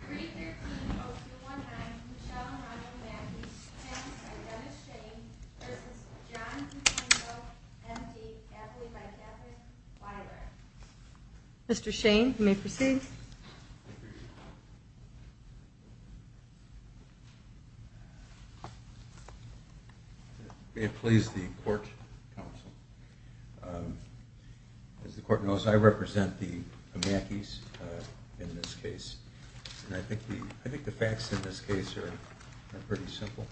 313-0219 Michelle Hirono-Amakis v. Dennis Shane v. John DeFranco, M.D. Athlete by Catholic Library I think the facts in this case are pretty simple.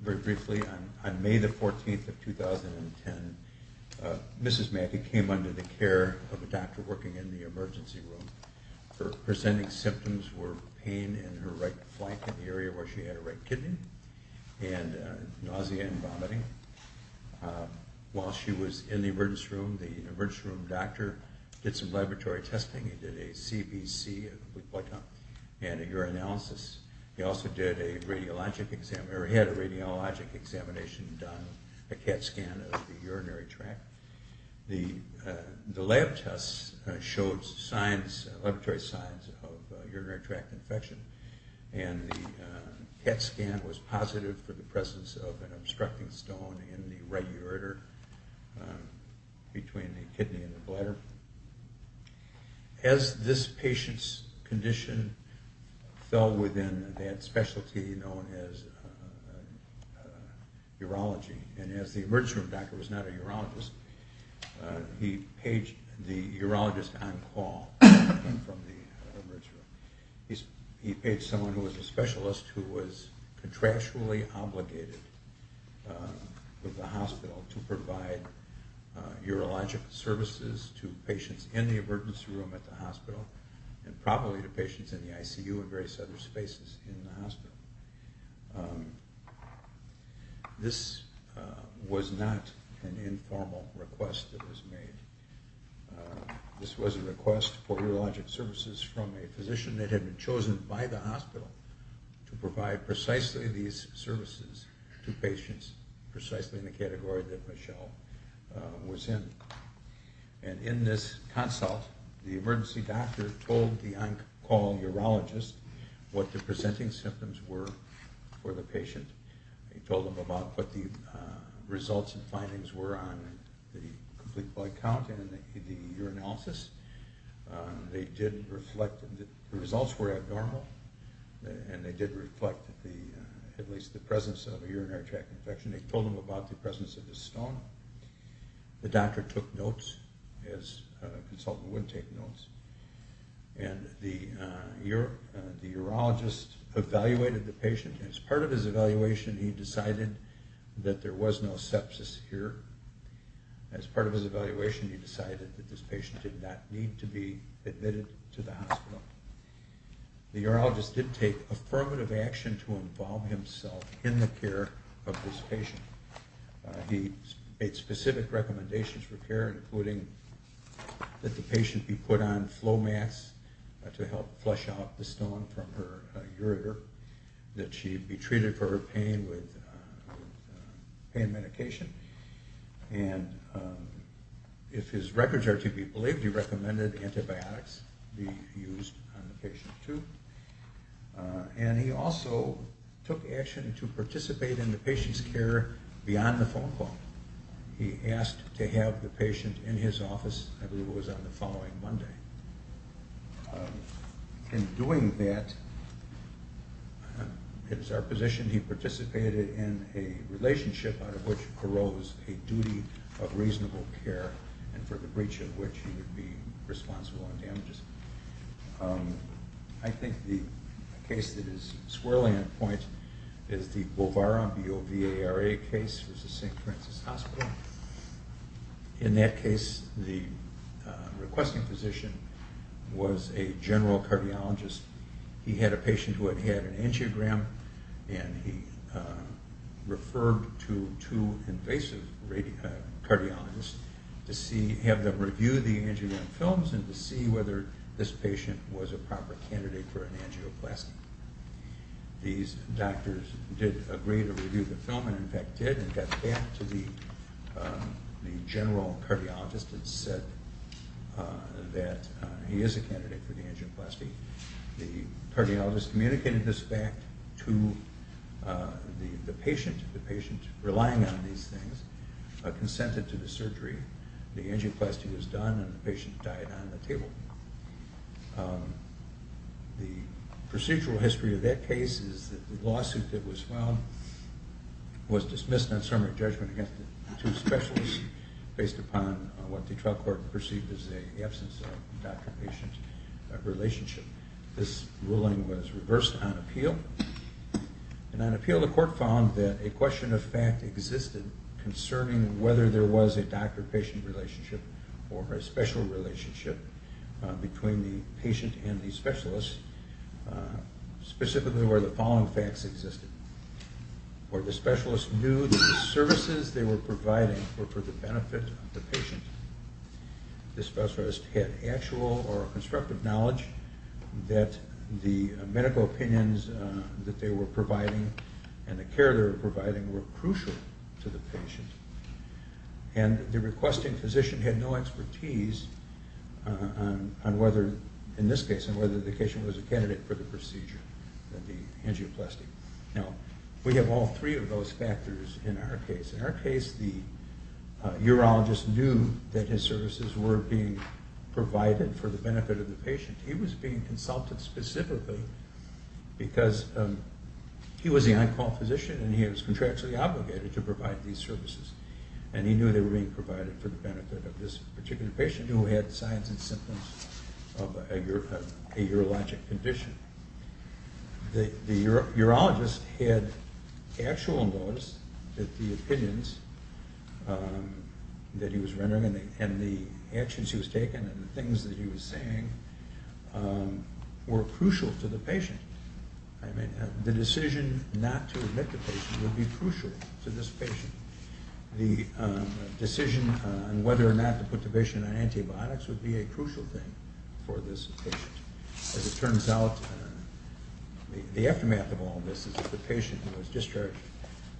Very briefly, on May 14, 2010, Mrs. Mackey came under the care of a doctor working in the emergency room. Her presenting symptoms were pain in her right flank in the area where she had a right kidney, and nausea and vomiting. While she was in the emergency room, the emergency room doctor did some laboratory testing. He did a CBC and a urinalysis. He also had a radiologic examination done, a CAT scan of the urinary tract. The lab tests showed laboratory signs of urinary tract infection, and the CAT scan was positive for the presence of an obstructing stone in the right ureter between the kidney and the bladder. As this patient's condition fell within that specialty known as urology, and as the emergency room doctor was not a urologist, he paged the urologist on call. He paged someone who was a specialist who was contractually obligated with the hospital to provide urologic services to patients in the emergency room at the hospital, and probably to patients in the ICU and various other spaces in the hospital. This was not an informal request that was made. This was a request for urologic services from a physician that had been chosen by the hospital to provide precisely these services to patients, precisely in the category that Michelle was in. And in this consult, the emergency doctor told the on-call urologist what the presenting symptoms were for the patient. He told them about what the results and findings were on the complete blood count and the urinalysis. The results were abnormal, and they did reflect at least the presence of a urinary tract infection. They told them about the presence of a stone. The doctor took notes, as a consultant would take notes, and the urologist evaluated the patient. As part of his evaluation, he decided that there was no sepsis here. As part of his evaluation, he decided that this patient did not need to be admitted to the hospital. The urologist did take affirmative action to involve himself in the care of this patient. He made specific recommendations for care, including that the patient be put on flow masks to help flush out the stone from her ureter, that she be treated for her pain with pain medication, and if his records are to be believed, he recommended antibiotics be used on the patient too. And he also took action to participate in the patient's care beyond the phone call. He asked to have the patient in his office, I believe it was on the following Monday. In doing that, it is our position he participated in a relationship out of which arose a duty of reasonable care and for the breach of which he would be responsible on damages. I think the case that is swirling on points is the Bovara VARA case. In that case, the requesting physician was a general cardiologist. He had a patient who had had an angiogram and he referred to two invasive cardiologists to have them review the angiogram films and to see whether this patient was a proper candidate for an angioplasty. These doctors did agree to review the film and in fact did and got back to the general cardiologist and said that he is a candidate for the angioplasty. The cardiologist communicated this back to the patient. The patient, relying on these things, consented to the surgery. The angioplasty was done and the patient died on the table. The procedural history of that case is that the lawsuit that was filed was dismissed on summary judgment against the two specialists based upon what the trial court perceived as an absence of doctor-patient relationship. This ruling was reversed on appeal and on appeal the court found that a question of fact existed concerning whether there was a doctor-patient relationship or a special relationship between the patient and the specialist, specifically where the following facts existed. The specialist knew that the services they were providing were for the benefit of the patient. The specialist had actual or constructive knowledge that the medical opinions that they were providing and the care they were providing were crucial to the patient and the requesting physician had no expertise on whether, in this case, the patient was a candidate for the procedure of the angioplasty. We have all three of those factors in our case. In our case, the urologist knew that his services were being provided for the benefit of the patient. He was being consulted specifically because he was the on-call physician and he was contractually obligated to provide these services and he knew they were being provided for the benefit of this particular patient who had signs and symptoms of a urologic condition. The urologist had actual knowledge that the opinions that he was rendering and the actions he was taking and the things that he was saying were crucial to the patient. The decision not to admit the patient would be crucial to this patient. The decision on whether or not to put the patient on antibiotics would be a crucial thing for this patient. As it turns out, the aftermath of all this is that the patient was discharged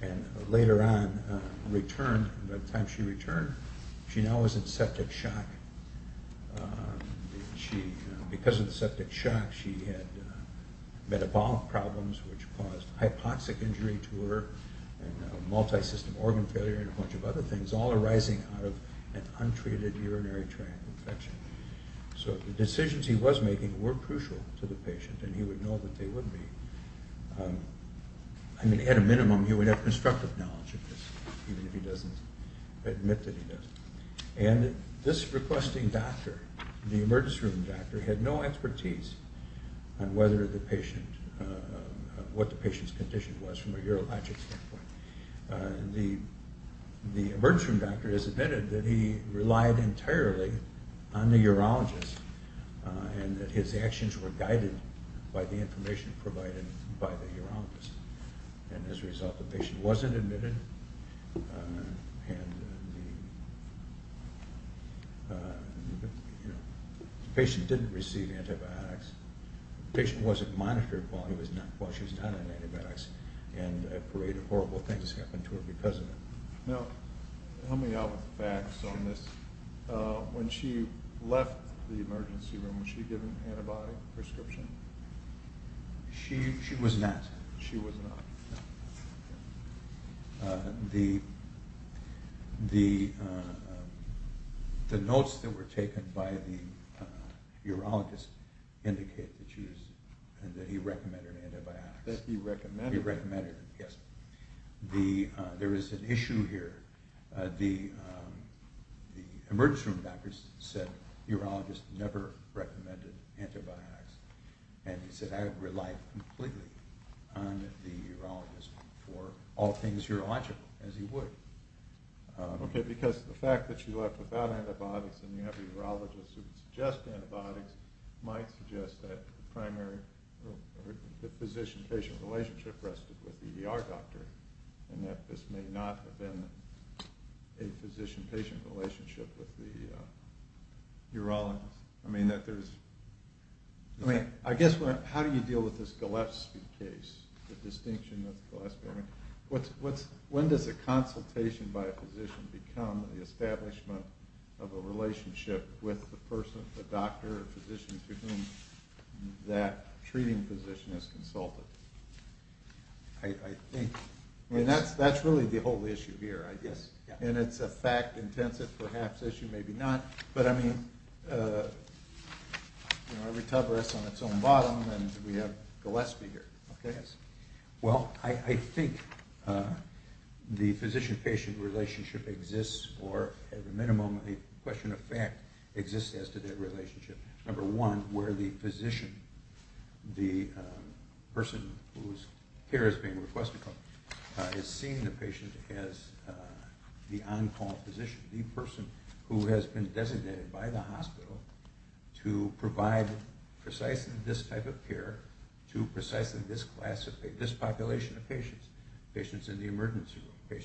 and later on returned. By the time she returned, she now was in septic shock. Because of the septic shock, she had metabolic problems which caused hypoxic injury to her and multi-system organ failure and a bunch of other things, all arising out of an untreated urinary tract infection. So the decisions he was making were crucial to the patient and he would know that they would be. At a minimum, he would have constructive knowledge of this, even if he doesn't admit that he does. This requesting doctor, the emergency room doctor, had no expertise on what the patient's condition was from a urologic standpoint. The emergency room doctor has admitted that he relied entirely on the urologist and that his actions were guided by the information provided by the urologist. As a result, the patient wasn't admitted and the patient didn't receive antibiotics. The patient wasn't monitored while she was on antibiotics and a parade of horrible things happened to her because of it. Now, help me out with facts on this. When she left the emergency room, was she given an antibody prescription? She was not. The notes that were taken by the urologist indicated that he recommended antibiotics. There is an issue here. The emergency room doctor said that the urologist never recommended antibiotics and he said that he relied completely on the urologist for all things urological, as he would. Okay, because the fact that she left without antibiotics and you have urologists who suggest antibiotics might suggest that the physician-patient relationship rested with the ER doctor and that this may not have been a physician-patient relationship with the urologist. I guess, how do you deal with this Gillespie case? When does a consultation by a physician become the establishment of a relationship with the person, the doctor, the physician to whom that treating physician has consulted? That's really the whole issue here, I guess. It's a fact-intensive perhaps issue, maybe not, but I mean, every tuber is on its own bottom and we have Gillespie here. Well, I think the physician-patient relationship exists, or at the minimum, the question of fact exists as to that relationship. Number one, where the physician, the person whose care is being requested, is seeing the patient as the on-call physician, the person who has been designated by the hospital to provide precisely this type of care to precisely this population of patients, patients in the emergency room.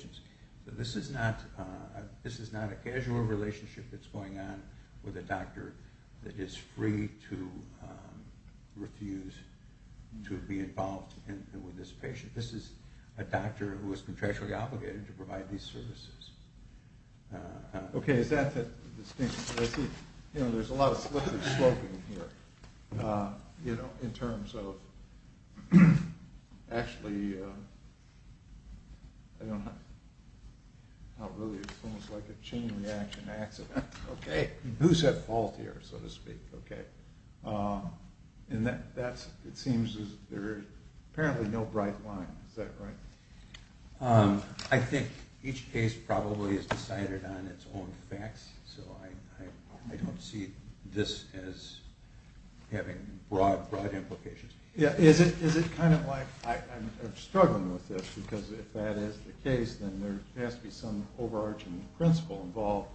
This is not a casual relationship that's going on with a doctor that is free to refuse to be involved with this patient. This is a doctor who is contractually obligated to provide these services. Okay, is that the distinction? I see, you know, there's a lot of slip and sloping here, you know, in terms of actually, I don't know, it's almost like a chain reaction accident. Okay, who's at fault here, so to speak? Okay. And that's, it seems there's apparently no bright line, is that right? I think each case probably is decided on its own facts, so I don't see this as having broad implications. Yeah, is it kind of like, I'm struggling with this, because if that is the case, then there has to be some overarching principle involved.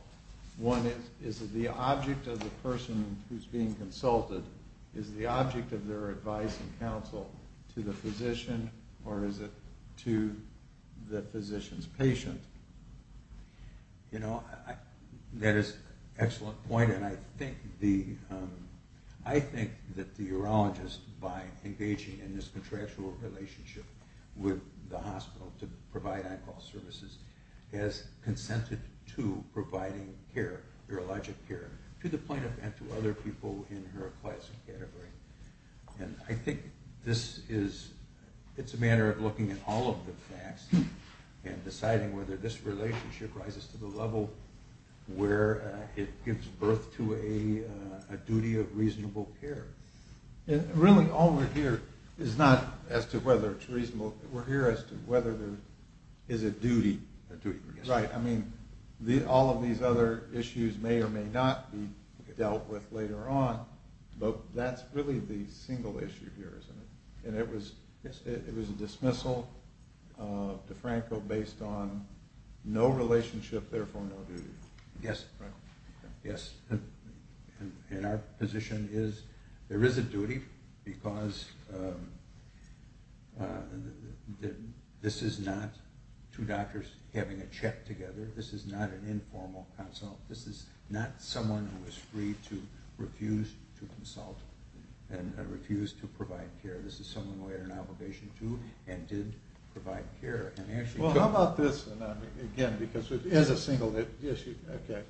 One is, is the object of the person who's being consulted, is the object of their advice and counsel to the physician, or is it to the physician's patient? You know, that is an excellent point, and I think that the urologist, by engaging in this contractual relationship with the hospital to provide on-call services, has consented to providing care, urologic care, to the plaintiff and to other people in her class and category. And I think this is, it's a matter of looking at all of the facts and deciding whether this relationship rises to the level where it gives birth to a duty of reasonable care. Really, all we're here is not as to whether it's reasonable, we're here as to whether there is a duty. Right, I mean, all of these other issues may or may not be dealt with later on, but that's really the single issue here, isn't it? And it was a dismissal of DeFranco based on no relationship, therefore no duty. Yes, yes. And our position is there is a duty, because this is not two doctors having a check together, this is not an informal consult, this is not someone who is free to refuse to consult and refuse to provide care, this is someone who had an obligation to and did provide care. Well, how about this, again, because it is a single issue, okay,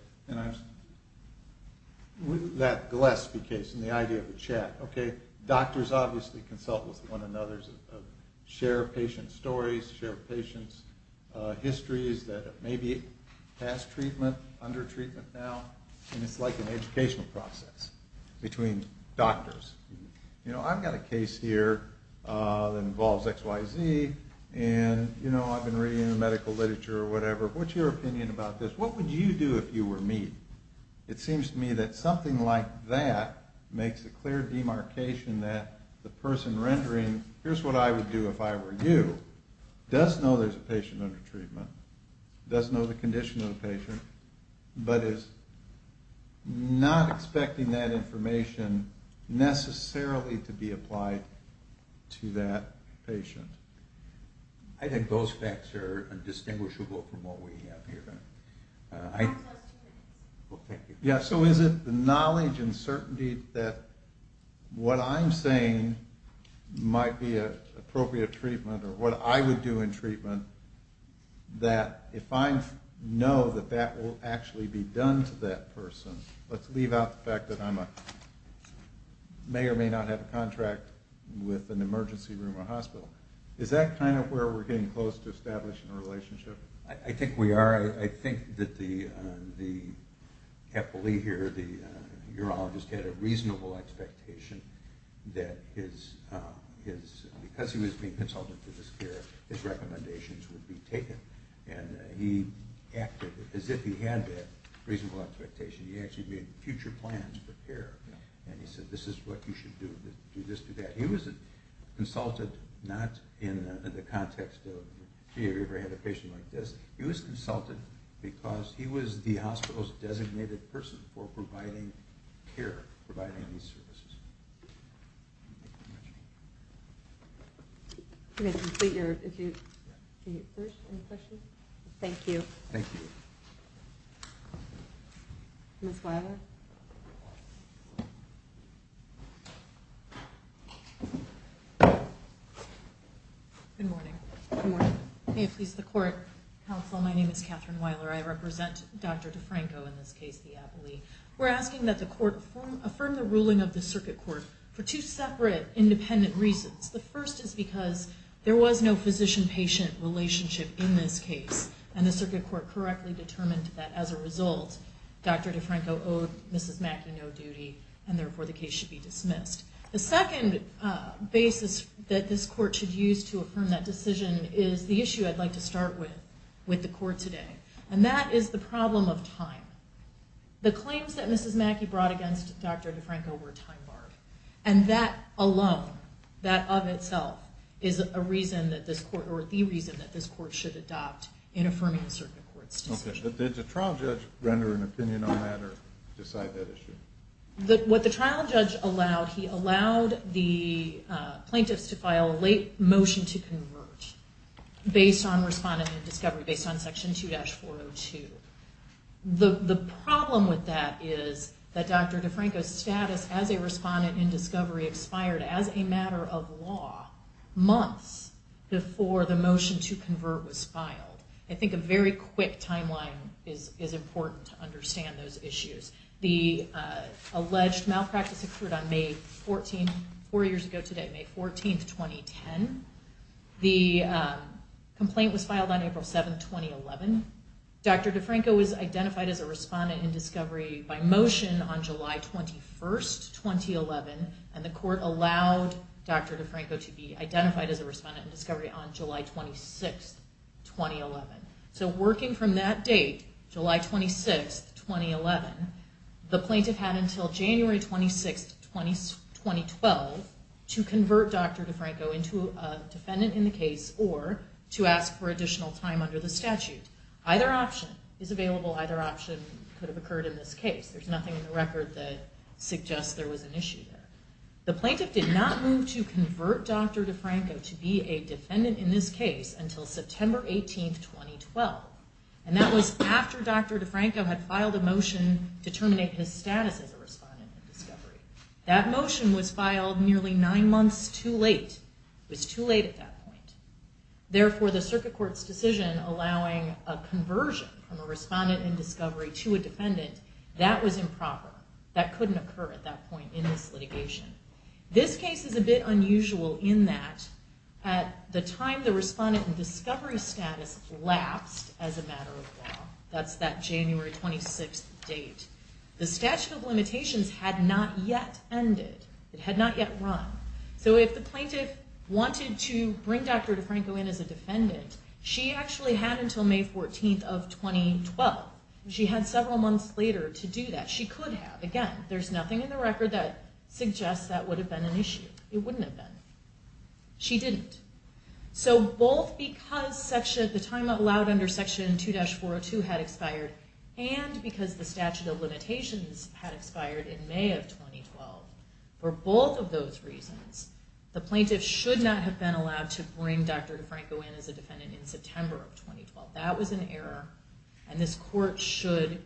that Gillespie case and the idea of a chat, okay, doctors obviously consult with one another, share patient stories, share patient histories that may be past treatment, under treatment now, and it's like an educational process between doctors. You know, I've got a case here that involves XYZ and, you know, I've been reading the medical literature or whatever, what's your opinion about this? What would you do if you were me? It seems to me that something like that makes a clear demarcation that the person rendering, here's what I would do if I were you, does know there's a patient under treatment, does know the condition of the patient, but is not expecting that information necessarily to be applied to that patient. I think those facts are distinguishable from what we have here. Yeah, so is it the knowledge and certainty that what I'm saying might be an appropriate treatment or what I would do in treatment that if I know that that will actually be done to that person, let's leave out the fact that I may or may not have a contract with an emergency room or hospital, is that kind of where we're getting close to establishing a relationship? I think we are. I think that the capillary here, the urologist, had a reasonable expectation that because he was being consulted for this care, his recommendations would be taken and he acted as if he had that reasonable expectation. He actually made future plans for care and he said, this is what you should do, do this, do that. He was consulted not in the context of, gee, have you ever had a patient like this? He was consulted because he was the hospital's designated person for providing care, providing these services. Thank you. Good morning. Good morning. May it please the court. Counsel, my name is Catherine Wyler. I represent Dr. DeFranco in this case, the Appley. We're asking that the court affirm the ruling of the circuit court for two separate independent reasons. The first is because there was no physician-patient relationship in this case and the circuit court correctly determined that as a result, Dr. DeFranco owed Mrs. Mackey no duty and therefore the case should be dismissed. The second basis that this court should use to affirm that decision is the issue I'd like to start with, with the court today. And that is the problem of time. The claims that Mrs. Mackey brought against Dr. DeFranco were time-barred. And that alone, that of itself, is a reason that this court, or the reason that this court should adopt in affirming the circuit court's decision. Did the trial judge render an opinion on that or decide that issue? What the trial judge allowed, he allowed the plaintiffs to file a late motion to convert based on respondent in discovery, based on section 2-402. The problem with that is that Dr. DeFranco's status as a respondent in discovery expired as a matter of law months before the motion to convert was filed. I think a very quick timeline is important to understand those issues. The alleged malpractice occurred on May 14, four years ago today, May 14, 2010. The complaint was filed on April 7, 2011. Dr. DeFranco was identified as a respondent in discovery by motion on July 21, 2011. And the court allowed Dr. DeFranco to be identified as a respondent in discovery on July 26, 2011. So working from that date, July 26, 2011, the plaintiff had until January 26, 2012, to convert Dr. DeFranco into a defendant in the case or to ask for additional time under the statute. Either option is available. Either option could have occurred in this case. There's nothing in the record that suggests there was an issue there. The plaintiff did not move to convert Dr. DeFranco to be a defendant in this case until September 18, 2012. And that was after Dr. DeFranco had filed a motion to terminate his status as a respondent in discovery. That motion was filed nearly nine months too late. It was too late at that point. Therefore, the circuit court's decision allowing a conversion from a respondent in discovery to a defendant, that was improper. That couldn't occur at that point in this litigation. This case is a bit unusual in that at the time the respondent in discovery status lapsed as a matter of law. That's that January 26 date. The statute of limitations had not yet ended. It had not yet run. So if the plaintiff wanted to bring Dr. DeFranco in as a defendant, she actually had until May 14 of 2012. She had several months later to do that. She could have. Again, there's nothing in the record that suggests that would have been an issue. It wouldn't have been. She didn't. So both because the time allowed under Section 2-402 had expired, and because the statute of limitations had expired in May of 2012, for both of those reasons, the plaintiff should not have been allowed to bring Dr. DeFranco in as a defendant in September of 2012. That was an error, and this court should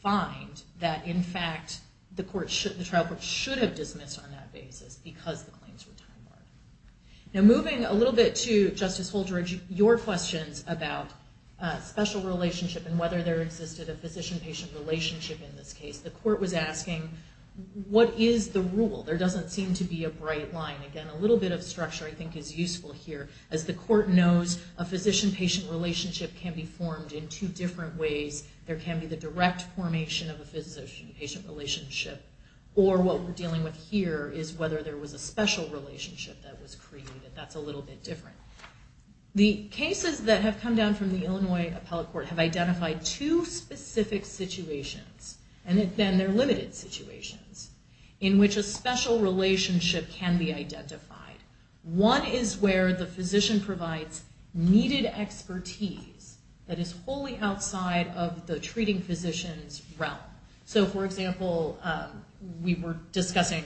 find that, in fact, the trial court should have dismissed on that basis because the claims were time-barred. Now moving a little bit to, Justice Holdred, your questions about special relationship and whether there existed a physician-patient relationship in this case, the court was asking, what is the rule? There doesn't seem to be a bright line. Again, a little bit of structure I think is useful here. As the court knows, a physician-patient relationship can be formed in two different ways. There can be the direct formation of a physician-patient relationship, or what we're dealing with here is whether there was a special relationship that was created. That's a little bit different. The cases that have come down from the Illinois Appellate Court have identified two specific situations, and then they're limited situations, in which a special relationship can be identified. One is where the physician provides needed expertise that is wholly outside of the treating physician's realm. For example, we were discussing,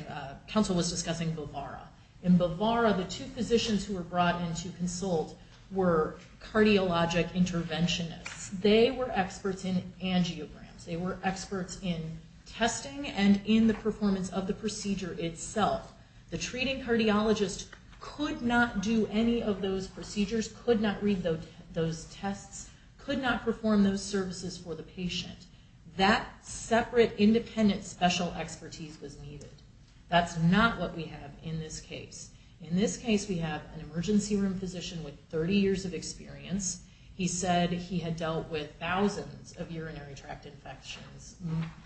counsel was discussing Bovara. In Bovara, the two physicians who were brought in to consult were cardiologic interventionists. They were experts in angiograms. They were experts in testing and in the performance of the procedure itself. The treating cardiologist could not do any of those procedures, could not read those tests, could not perform those services for the patient. That separate, independent, special expertise was needed. That's not what we have in this case. In this case, we have an emergency room physician with 30 years of experience. He said he had dealt with thousands of urinary tract infections,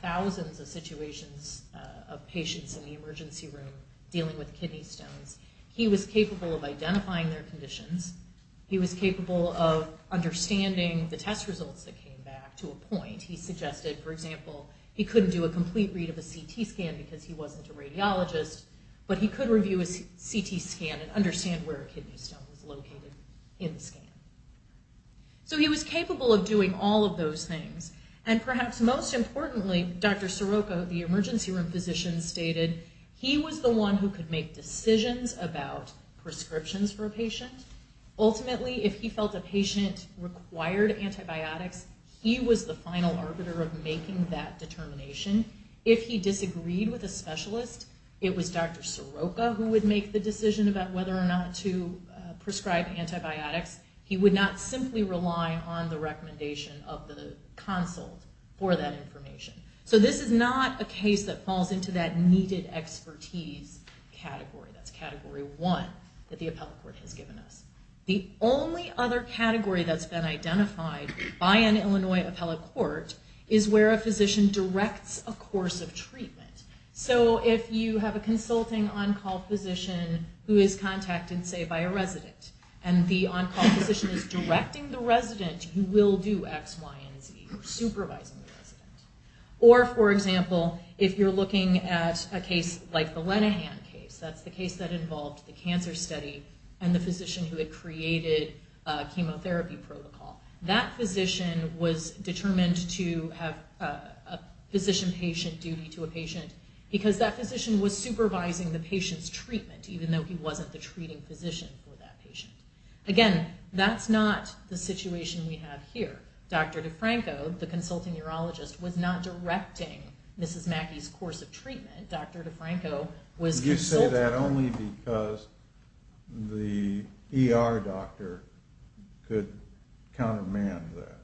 thousands of situations of patients in the emergency room dealing with kidney stones. He was capable of identifying their conditions. He was capable of understanding the test results that came back to a point. He suggested, for example, he couldn't do a complete read of a CT scan because he wasn't a radiologist, but he could review a CT scan and understand where a kidney stone was located in the scan. So he was capable of doing all of those things. And perhaps most importantly, Dr. Soroka, the emergency room physician, stated he was the one who could make decisions about prescriptions for a patient. Ultimately, if he felt a patient required antibiotics, he was the final arbiter of making that determination. If he disagreed with a specialist, it was Dr. Soroka who would make the decision about whether or not to prescribe antibiotics. He would not simply rely on the recommendation of the consult for that information. So this is not a case that falls into that needed expertise category. That's category one that the appellate court has given us. The only other category that's been identified by an Illinois appellate court is where a physician directs a course of treatment. So if you have a consulting on-call physician who is contacted, say, by a resident, and the on-call physician is directing the resident, you will do X, Y, and Z, supervising the resident. Or, for example, if you're looking at a case like the Lenahan case, that's the case that involved the cancer study and the physician who had created a chemotherapy protocol, that physician was determined to have a physician-patient duty to a patient because that physician was supervising the patient's treatment, even though he wasn't the treating physician for that patient. Again, that's not the situation we have here. Dr. DeFranco, the consulting urologist, was not directing Mrs. Mackey's course of treatment. Dr. DeFranco was consulting her. You say that only because the ER doctor could countermand that.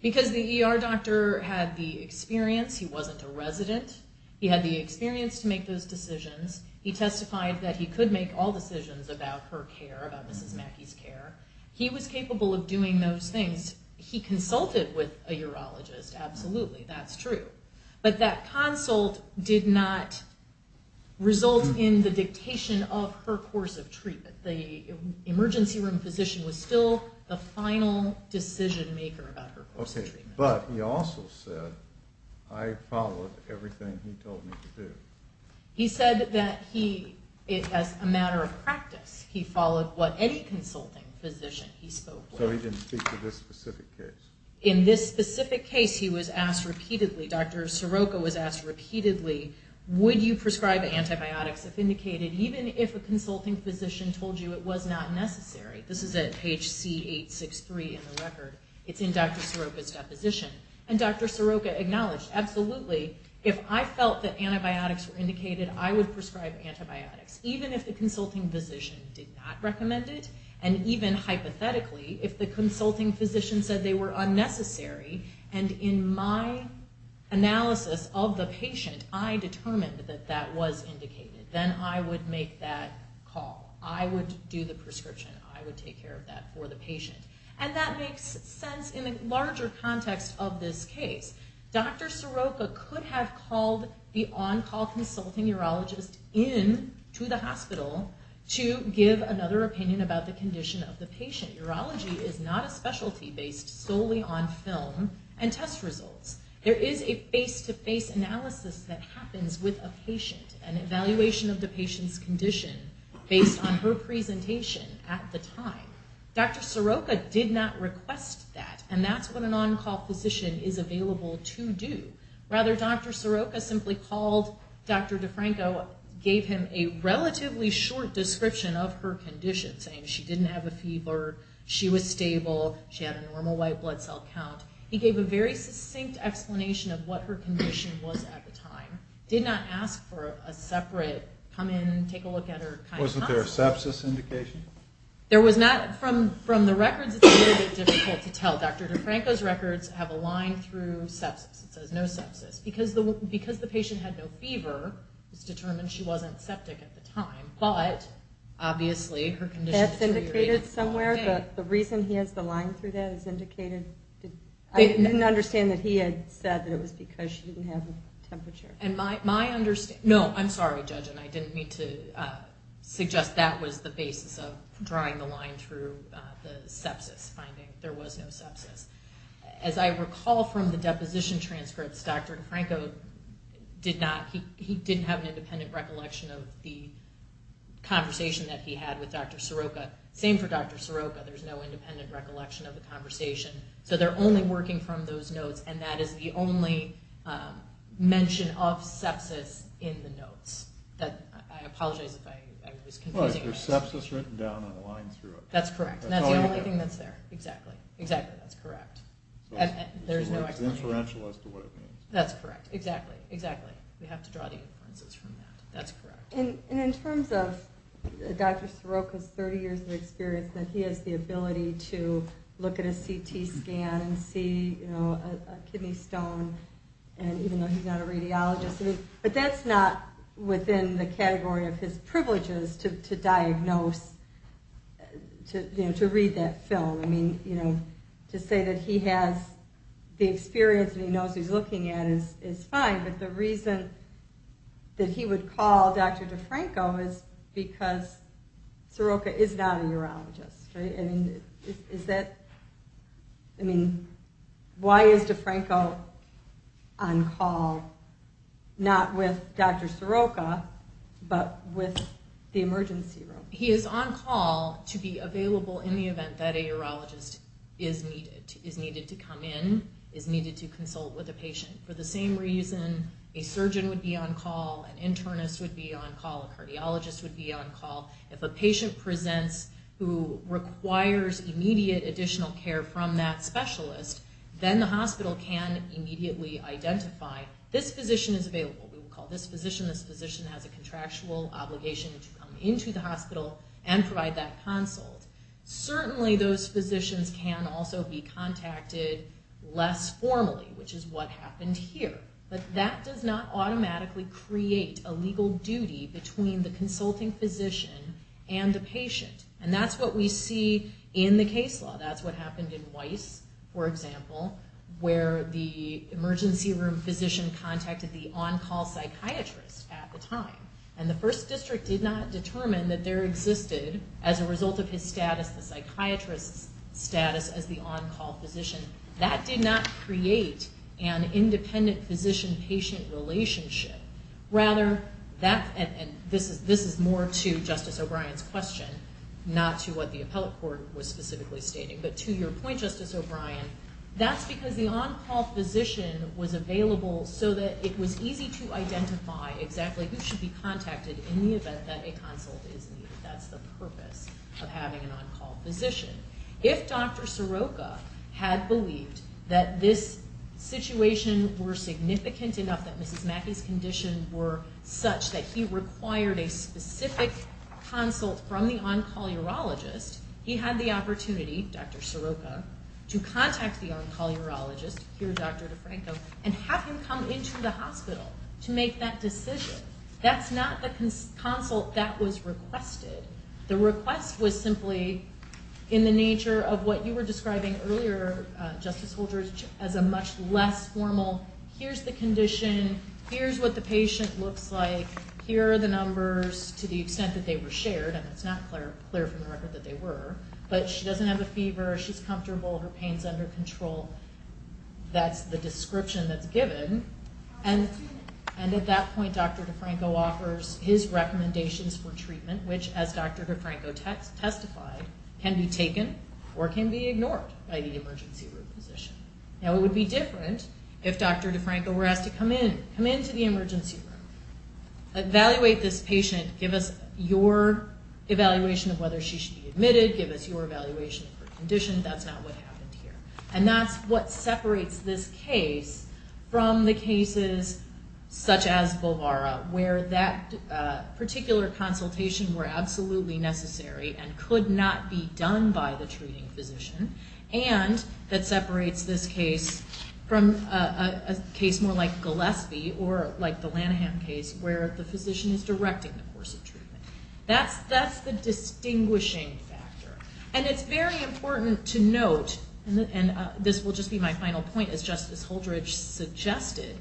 Because the ER doctor had the experience. He wasn't a resident. He had the experience to make those decisions. He testified that he could make all decisions about her care, about Mrs. Mackey's care. He was capable of doing those things. He consulted with a urologist, absolutely. That's true. But that consult did not result in the dictation of her course of treatment. The emergency room physician was still the final decision-maker about her course of treatment. But he also said, I followed everything he told me to do. He said that he, as a matter of practice, he followed what any consulting physician he spoke with. So he didn't speak to this specific case. In this specific case, he was asked repeatedly, Dr. Soroka was asked repeatedly, would you prescribe antibiotics if indicated, even if a consulting physician told you it was not necessary? This is at page C863 in the record. It's in Dr. Soroka's deposition. And Dr. Soroka acknowledged, absolutely, if I felt that antibiotics were indicated, I would prescribe antibiotics, even if the consulting physician did not recommend it. And even hypothetically, if the consulting physician said they were unnecessary, and in my analysis of the patient, I determined that that was indicated, then I would make that call. I would do the prescription. I would take care of that for the patient. And that makes sense in the larger context of this case. Dr. Soroka could have called the on-call consulting urologist in to the hospital to give another opinion about the condition of the patient. Urology is not a specialty based solely on film and test results. There is a face-to-face analysis that happens with a patient, an evaluation of the patient's condition based on her presentation at the time. Dr. Soroka did not request that. And that's what an on-call physician is available to do. Rather, Dr. Soroka simply called Dr. DeFranco, gave him a relatively short description of her condition, saying she didn't have a fever, she was stable, she had a normal white blood cell count. He gave a very succinct explanation of what her condition was at the time. Did not ask for a separate, come in, take a look at her kind of pulse. Wasn't there a sepsis indication? There was not. From the records, it's a little bit difficult to tell. Dr. DeFranco's records have a line through sepsis. It says no sepsis. Because the patient had no fever, it was determined she wasn't septic at the time. But, obviously, her condition deteriorated. That's indicated somewhere. The reason he has the line through that is indicated. I didn't understand that he had said that it was because she didn't have a temperature. No, I'm sorry, Judge. I didn't mean to suggest that was the basis of drawing the line through the sepsis finding. There was no sepsis. As I recall from the deposition transcripts, Dr. DeFranco did not, he didn't have an independent recollection of the conversation that he had with Dr. Soroka. Same for Dr. Soroka. There's no independent recollection of the conversation. They're only working from those notes. That is the only mention of sepsis in the notes. I apologize if I was confusing you. There's sepsis written down on the line through it. That's correct. That's the only thing that's there. Exactly. That's correct. There's no explanation. It's inferential as to what it means. That's correct. Exactly. Exactly. We have to draw the inferences from that. That's correct. In terms of Dr. Soroka's 30 years of experience, that he has the ability to look at a CT scan and see a kidney stone, even though he's not a radiologist, but that's not within the category of his privileges to diagnose, to read that film. To say that he has the experience and he knows what he's looking at is fine, but the reason that he would call Dr. DeFranco is because Soroka is not a urologist. Why is DeFranco on call not with Dr. Soroka but with the emergency room? He is on call to be available in the event that a urologist is needed, is needed to come in, is needed to consult with a patient. For the same reason a surgeon would be on call, an internist would be on call, a cardiologist would be on call. If a patient presents who requires immediate additional care from that specialist, then the hospital can immediately identify, this physician is available. We would call this physician, this physician has a contractual obligation to come into the hospital and provide that consult. Certainly those physicians can also be contacted less formally, which is what happened here. But that does not automatically create a legal duty between the consulting physician and the patient. And that's what we see in the case law. That's what happened in Weiss, for example, where the emergency room physician contacted the on-call psychiatrist at the time. And the first district did not determine that there existed, as a result of his status, the psychiatrist's status as the on-call physician. That did not create an independent physician-patient relationship. Rather, and this is more to Justice O'Brien's question, not to what the appellate court was specifically stating. But to your point, Justice O'Brien, that's because the on-call physician was available so that it was easy to identify exactly who should be contacted in the event that a consult is needed. That's the purpose of having an on-call physician. If Dr. Soroka had believed that this situation were significant enough that Mrs. Mackey's condition were such that he required a specific consult from the on-call urologist, he had the opportunity, Dr. Soroka, to contact the on-call urologist, here Dr. DeFranco, and have him come into the hospital to make that decision. That's not the consult that was requested. The request was simply in the nature of what you were describing earlier, Justice Holdren, as a much less formal, here's the condition, here's what the patient looks like, here are the numbers to the extent that they were shared, and it's not clear from the record that they were. But she doesn't have a fever, she's comfortable, her pain's under control. That's the description that's given. And at that point, Dr. DeFranco offers his recommendations for treatment, which, as Dr. DeFranco testified, can be taken or can be ignored by the emergency room physician. Now, it would be different if Dr. DeFranco were asked to come in, come into the emergency room, evaluate this patient, give us your evaluation of whether she should be admitted, give us your evaluation of her condition. That's not what happened here. And that's what separates this case from the cases such as Bolvara, where that particular consultation were absolutely necessary and could not be done by the treating physician, and that separates this case from a case more like Gillespie or like the Lanahan case where the physician is directing the course of treatment. That's the distinguishing factor. And it's very important to note, and this will just be my final point, as Justice Holdrege suggested,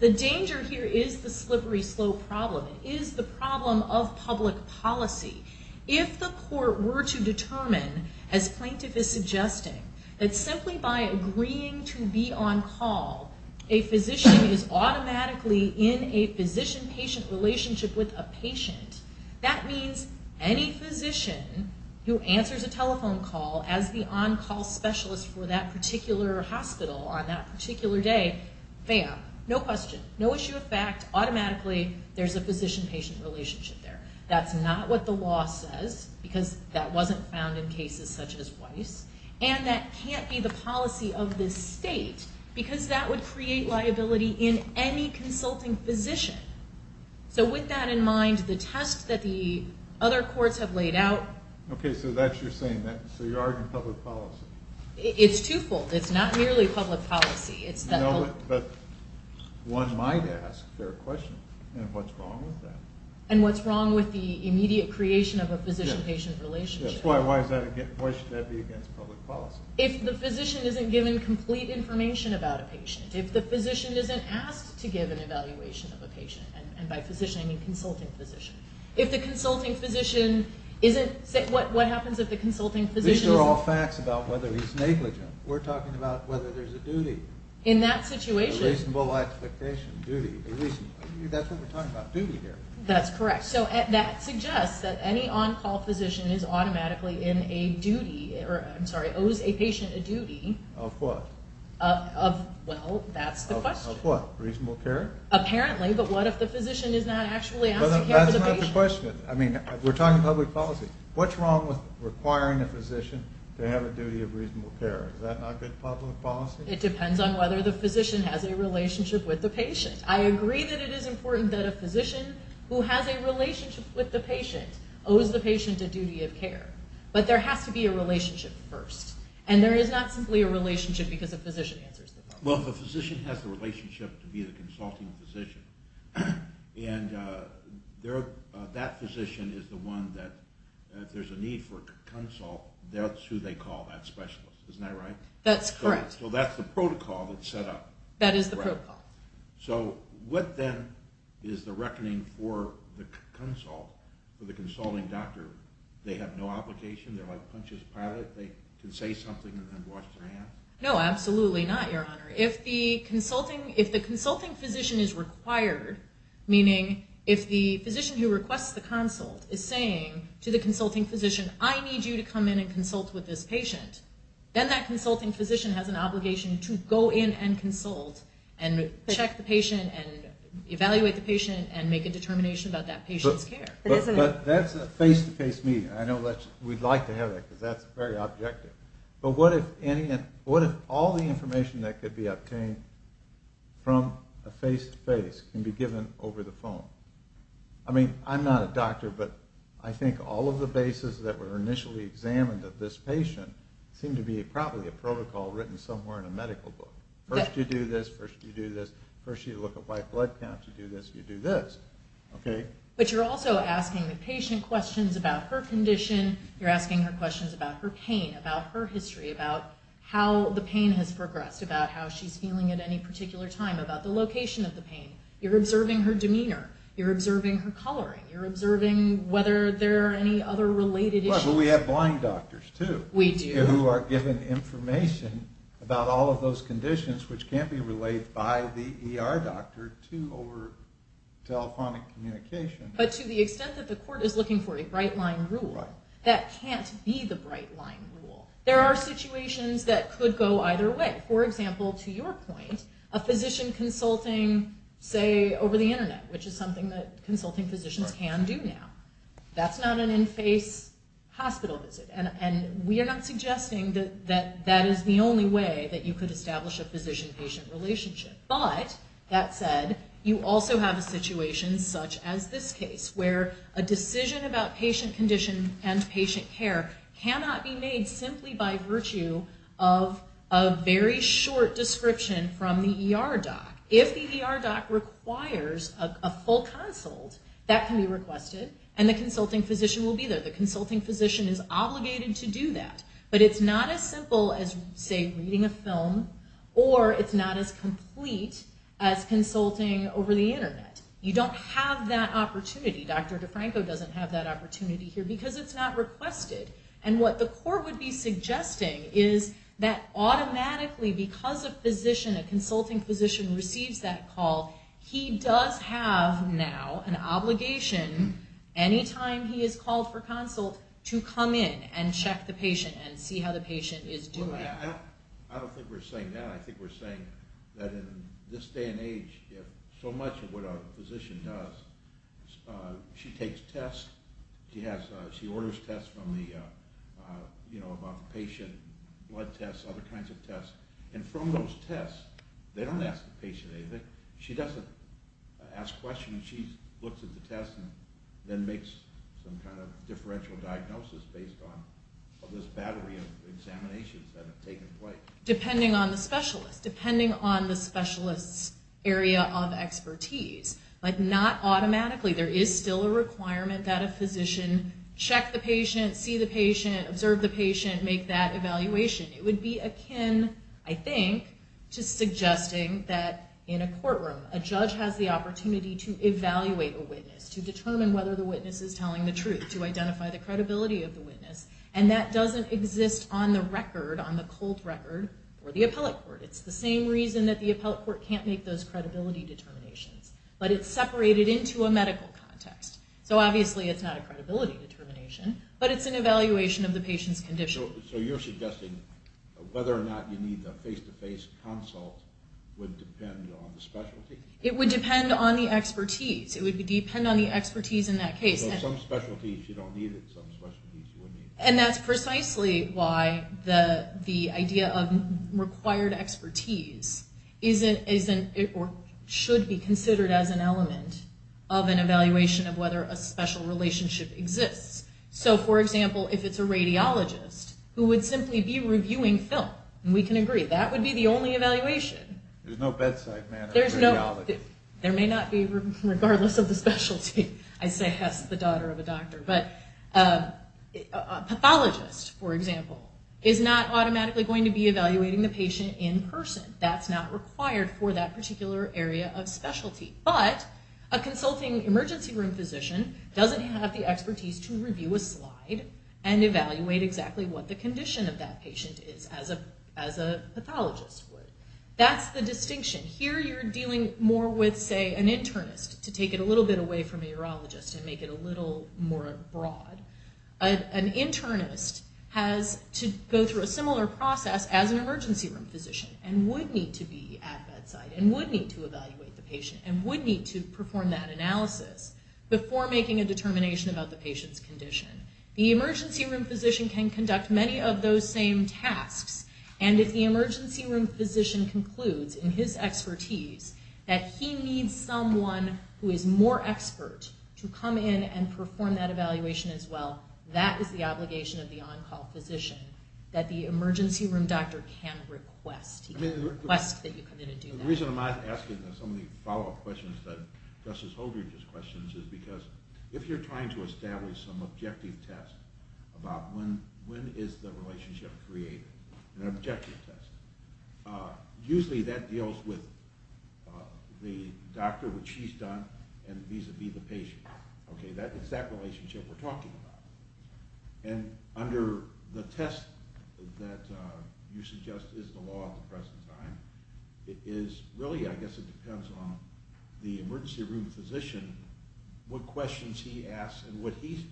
the danger here is the slippery, slow problem. It is the problem of public policy. If the court were to determine, as plaintiff is suggesting, that simply by agreeing to be on call, a physician is automatically in a physician-patient relationship with a patient, that means any physician who answers a telephone call as the on-call specialist for that particular hospital on that particular day, bam, no question, no issue of fact, automatically there's a physician-patient relationship there. That's not what the law says because that wasn't found in cases such as Weiss, and that can't be the policy of this state because that would create liability in any consulting physician. So with that in mind, the test that the other courts have laid out... Okay, so you're arguing public policy. It's twofold. It's not merely public policy. But one might ask their question, and what's wrong with that? And what's wrong with the immediate creation of a physician-patient relationship? Why should that be against public policy? If the physician isn't given complete information about a patient, if the physician isn't asked to give an evaluation of a patient, and by physician I mean consulting physician, if the consulting physician isn't... What happens if the consulting physician... These are all facts about whether he's negligent. We're talking about whether there's a duty. In that situation... A reasonable expectation, duty. That's what we're talking about, duty here. That's correct. So that suggests that any on-call physician is automatically in a duty, or I'm sorry, owes a patient a duty. Of what? Of, well, that's the question. Of what? Reasonable care? Apparently, but what if the physician is not actually asked to care for the patient? That's not the question. I mean, we're talking public policy. What's wrong with requiring a physician to have a duty of reasonable care? Is that not good public policy? It depends on whether the physician has a relationship with the patient. I agree that it is important that a physician who has a relationship with the patient owes the patient a duty of care. But there has to be a relationship first. And there is not simply a relationship because a physician answers the question. Well, if a physician has the relationship to be the consulting physician, and that physician is the one that, if there's a need for consult, that's who they call that specialist. Isn't that right? That's correct. So that's the protocol that's set up. That is the protocol. So what then is the reckoning for the consult, for the consulting doctor? They have no obligation? They're like Punch's pilot? They can say something and then wash their hands? No, absolutely not, Your Honor. If the consulting physician is required, meaning if the physician who requests the consult is saying to the consulting physician, I need you to come in and consult with this patient, then that consulting physician has an obligation to go in and consult and check the patient and evaluate the patient and make a determination about that patient's care. But that's a face-to-face meeting. I know we'd like to have that because that's very objective. But what if all the information that could be obtained from a face-to-face can be given over the phone? I mean, I'm not a doctor, but I think all of the bases that were initially examined of this patient seem to be probably a protocol written somewhere in a medical book. First you do this, first you do this, first you look at white blood counts, you do this, you do this. But you're also asking the patient questions about her condition, you're asking her questions about her pain, about her history, about how the pain has progressed, about how she's feeling at any particular time, about the location of the pain. You're observing her demeanor, you're observing her coloring, you're observing whether there are any other related issues. But we have blind doctors, too. We do. Who are given information about all of those conditions which can't be relayed by the ER doctor to over telephonic communication. But to the extent that the court is looking for a bright line rule, that can't be the bright line rule. There are situations that could go either way. For example, to your point, a physician consulting, say, over the internet, which is something that consulting physicians can do now. That's not an in-face hospital visit. And we are not suggesting that that is the only way that you could establish a physician-patient relationship. But, that said, you also have a situation such as this case, where a decision about patient condition and patient care cannot be made simply by virtue of a very short description from the ER doc. If the ER doc requires a full consult, that can be requested, and the consulting physician will be there. The consulting physician is obligated to do that. Or, it's not as complete as consulting over the internet. You don't have that opportunity. Dr. DeFranco doesn't have that opportunity here because it's not requested. And what the court would be suggesting is that automatically, because a physician, a consulting physician, receives that call, he does have now an obligation, anytime he is called for consult, to come in and check the patient and see how the patient is doing. I don't think we're saying that. I think we're saying that in this day and age, so much of what a physician does, she takes tests, she orders tests from the patient, blood tests, other kinds of tests, and from those tests, they don't ask the patient anything. She doesn't ask questions. She looks at the test and then makes some kind of differential diagnosis based on this battery of examinations that have taken place. Depending on the specialist, depending on the specialist's area of expertise. But not automatically. There is still a requirement that a physician check the patient, see the patient, observe the patient, make that evaluation. It would be akin, I think, to suggesting that in a courtroom, a judge has the opportunity to evaluate a witness, to determine whether the witness is telling the truth, to identify the credibility of the witness, and that doesn't exist on the record, on the cold record for the appellate court. It's the same reason that the appellate court can't make those credibility determinations. But it's separated into a medical context. So obviously it's not a credibility determination, but it's an evaluation of the patient's condition. So you're suggesting whether or not you need the face-to-face consult would depend on the specialty? It would depend on the expertise. It would depend on the expertise in that case. So some specialties you don't need, and some specialties you would need. And that's precisely why the idea of required expertise should be considered as an element of an evaluation of whether a special relationship exists. So, for example, if it's a radiologist who would simply be reviewing film, we can agree that would be the only evaluation. There's no bedside manner of radiology. There may not be, regardless of the specialty, I say, as the daughter of a doctor. But a pathologist, for example, is not automatically going to be evaluating the patient in person. That's not required for that particular area of specialty. But a consulting emergency room physician doesn't have the expertise to review a slide and evaluate exactly what the condition of that patient is as a pathologist would. That's the distinction. Here you're dealing more with, say, an internist, to take it a little bit away from a urologist and make it a little more broad. An internist has to go through a similar process as an emergency room physician and would need to be at bedside and would need to evaluate the patient and would need to perform that analysis before making a determination about the patient's condition. The emergency room physician can conduct many of those same tasks. And if the emergency room physician concludes in his expertise that he needs someone who is more expert to come in and perform that evaluation as well, that is the obligation of the on-call physician that the emergency room doctor can request. He can request that you come in and do that. The reason I'm asking some of the follow-up questions about when is the relationship created, an objective test. Usually that deals with the doctor, which he's done, and vis-a-vis the patient. It's that relationship we're talking about. And under the test that you suggest is the law at the present time, it is really, I guess it depends on the emergency room physician, what questions he asks and what he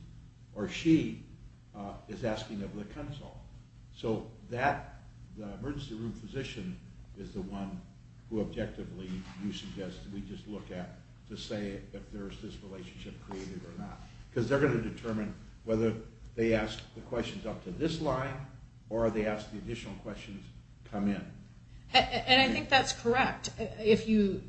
or she is asking of the consult. So that emergency room physician is the one who objectively you suggest that we just look at to say if there's this relationship created or not. Because they're going to determine whether they ask the questions up to this line or they ask the additional questions come in. And I think that's correct. If you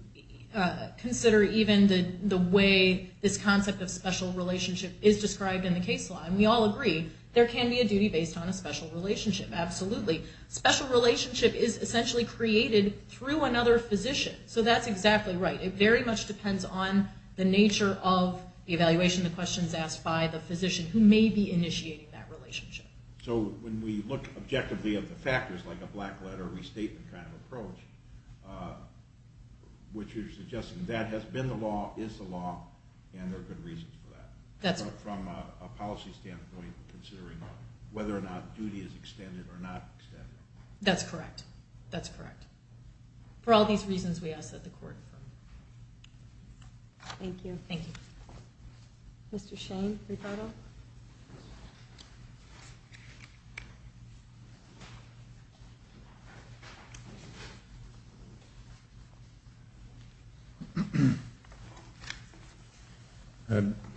consider even the way this concept of special relationship is described in the case law, and we all agree, there can be a duty based on a special relationship, absolutely. Special relationship is essentially created through another physician. So that's exactly right. It very much depends on the nature of the evaluation, the questions asked by the physician who may be initiating that relationship. So when we look objectively at the factors, like a black letter restatement kind of approach, which you're suggesting that has been the law, is the law, and there are good reasons for that from a policy standpoint considering whether or not duty is extended or not extended. That's correct. That's correct. For all these reasons, we ask that the court affirm. Thank you. Thank you. Mr. Shane, rebuttal.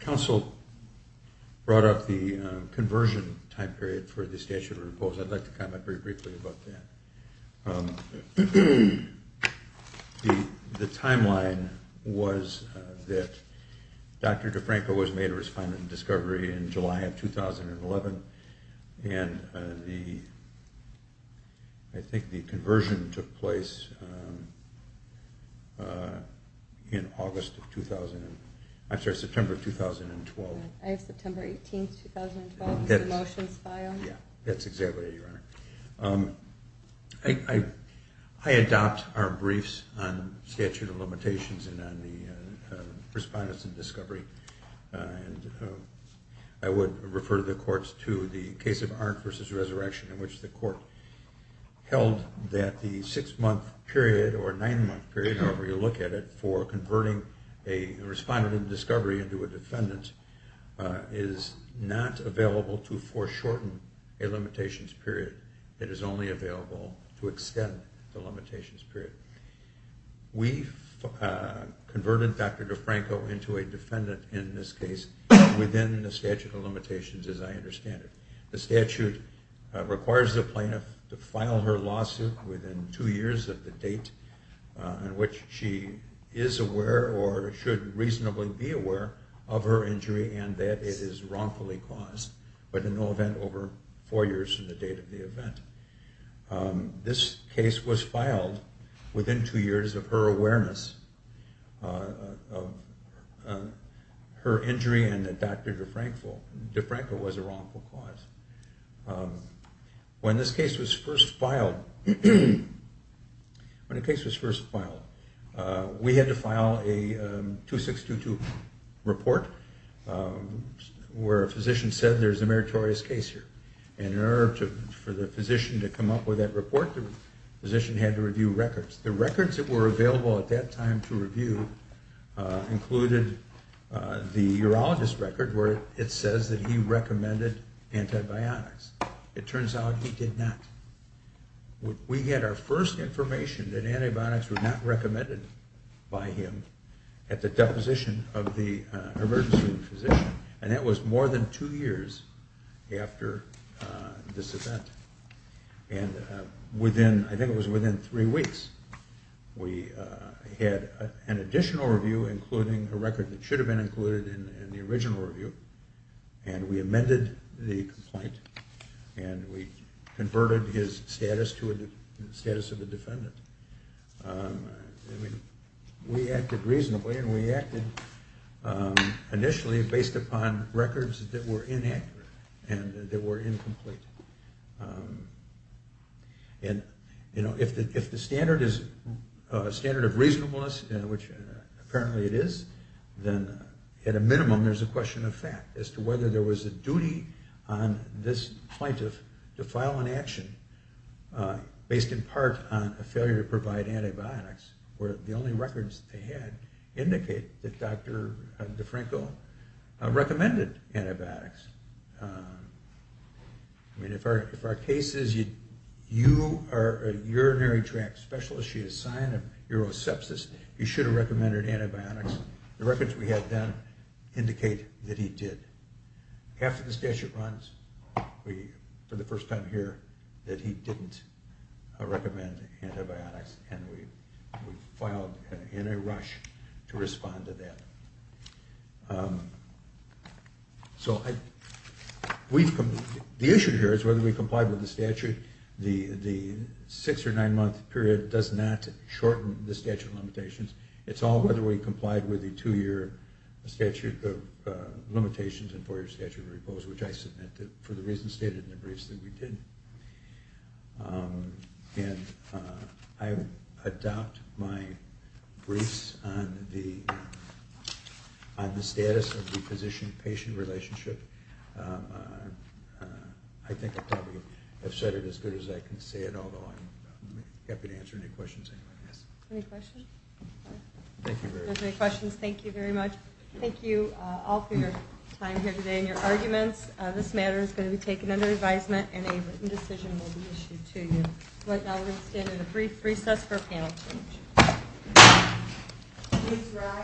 Counsel brought up the conversion time period for the statute of repose. I'd like to comment very briefly about that. The timeline was that Dr. DeFranco was made a respondent in discovery in July of 2011, and I think the conversion took place in August of 2000. I'm sorry, September of 2012. September 18th, 2012, the motions file. Yeah, that's exactly right. I adopt our briefs on statute of limitations and on the respondents in discovery. I would refer the courts to the case of Arndt v. Resurrection in which the court held that the six-month period or nine-month period, however you look at it, for converting a respondent in discovery into a defendant is not available to foreshorten a limitations period. It is only available to extend the limitations period. We converted Dr. DeFranco into a defendant in this case within the statute of limitations as I understand it. The statute requires the plaintiff to file her lawsuit within two years of the date in which she is aware or should reasonably be aware of her injury and that it is wrongfully caused, but in no event over four years from the date of the event. This case was filed within two years of her awareness of her injury and that Dr. DeFranco was a wrongful cause. When this case was first filed, when the case was first filed, we had to file a 2622 report where a physician said there's a meritorious case here and in order for the physician to come up with that report, the physician had to review records. The records that were available at that time to review included the urologist record where it says that he recommended antibiotics. It turns out he did not. We had our first information that antibiotics were not recommended by him at the deposition of the emergency room physician and that was more than two years after this event. And I think it was within three weeks we had an additional review including a record that should have been included in the original review and we amended the complaint and we converted his status to the status of a defendant. We acted reasonably and we acted initially based upon records that were inaccurate and that were incomplete. If the standard is a standard of reasonableness, which apparently it is, then at a minimum there's a question of fact as to whether there was a duty on this plaintiff to file an action based in part on a failure to provide antibiotics where the only records that they had indicate that Dr. DeFranco recommended antibiotics. I mean, if our case is you are a urinary tract specialist, you have a sign of urosepsis, you should have recommended antibiotics. The records we had then indicate that he did. After the statute runs, for the first time here, that he didn't recommend antibiotics and we filed in a rush to respond to that. So the issue here is whether we complied with the statute. does not shorten the statute of limitations. It's all whether we complied with the two-year statute of limitations and four-year statute of repose, which I submitted for the reasons stated in the briefs that we did. And I adopt my briefs on the status of the physician-patient relationship. I think I probably have said it as good as I can say it, although I'm happy to answer any questions anyone has. Any questions? If there's any questions, thank you very much. Thank you all for your time here today and your arguments. This matter is going to be taken under advisement and a written decision will be issued to you. Right now we're going to stand in a brief recess for panel discussion.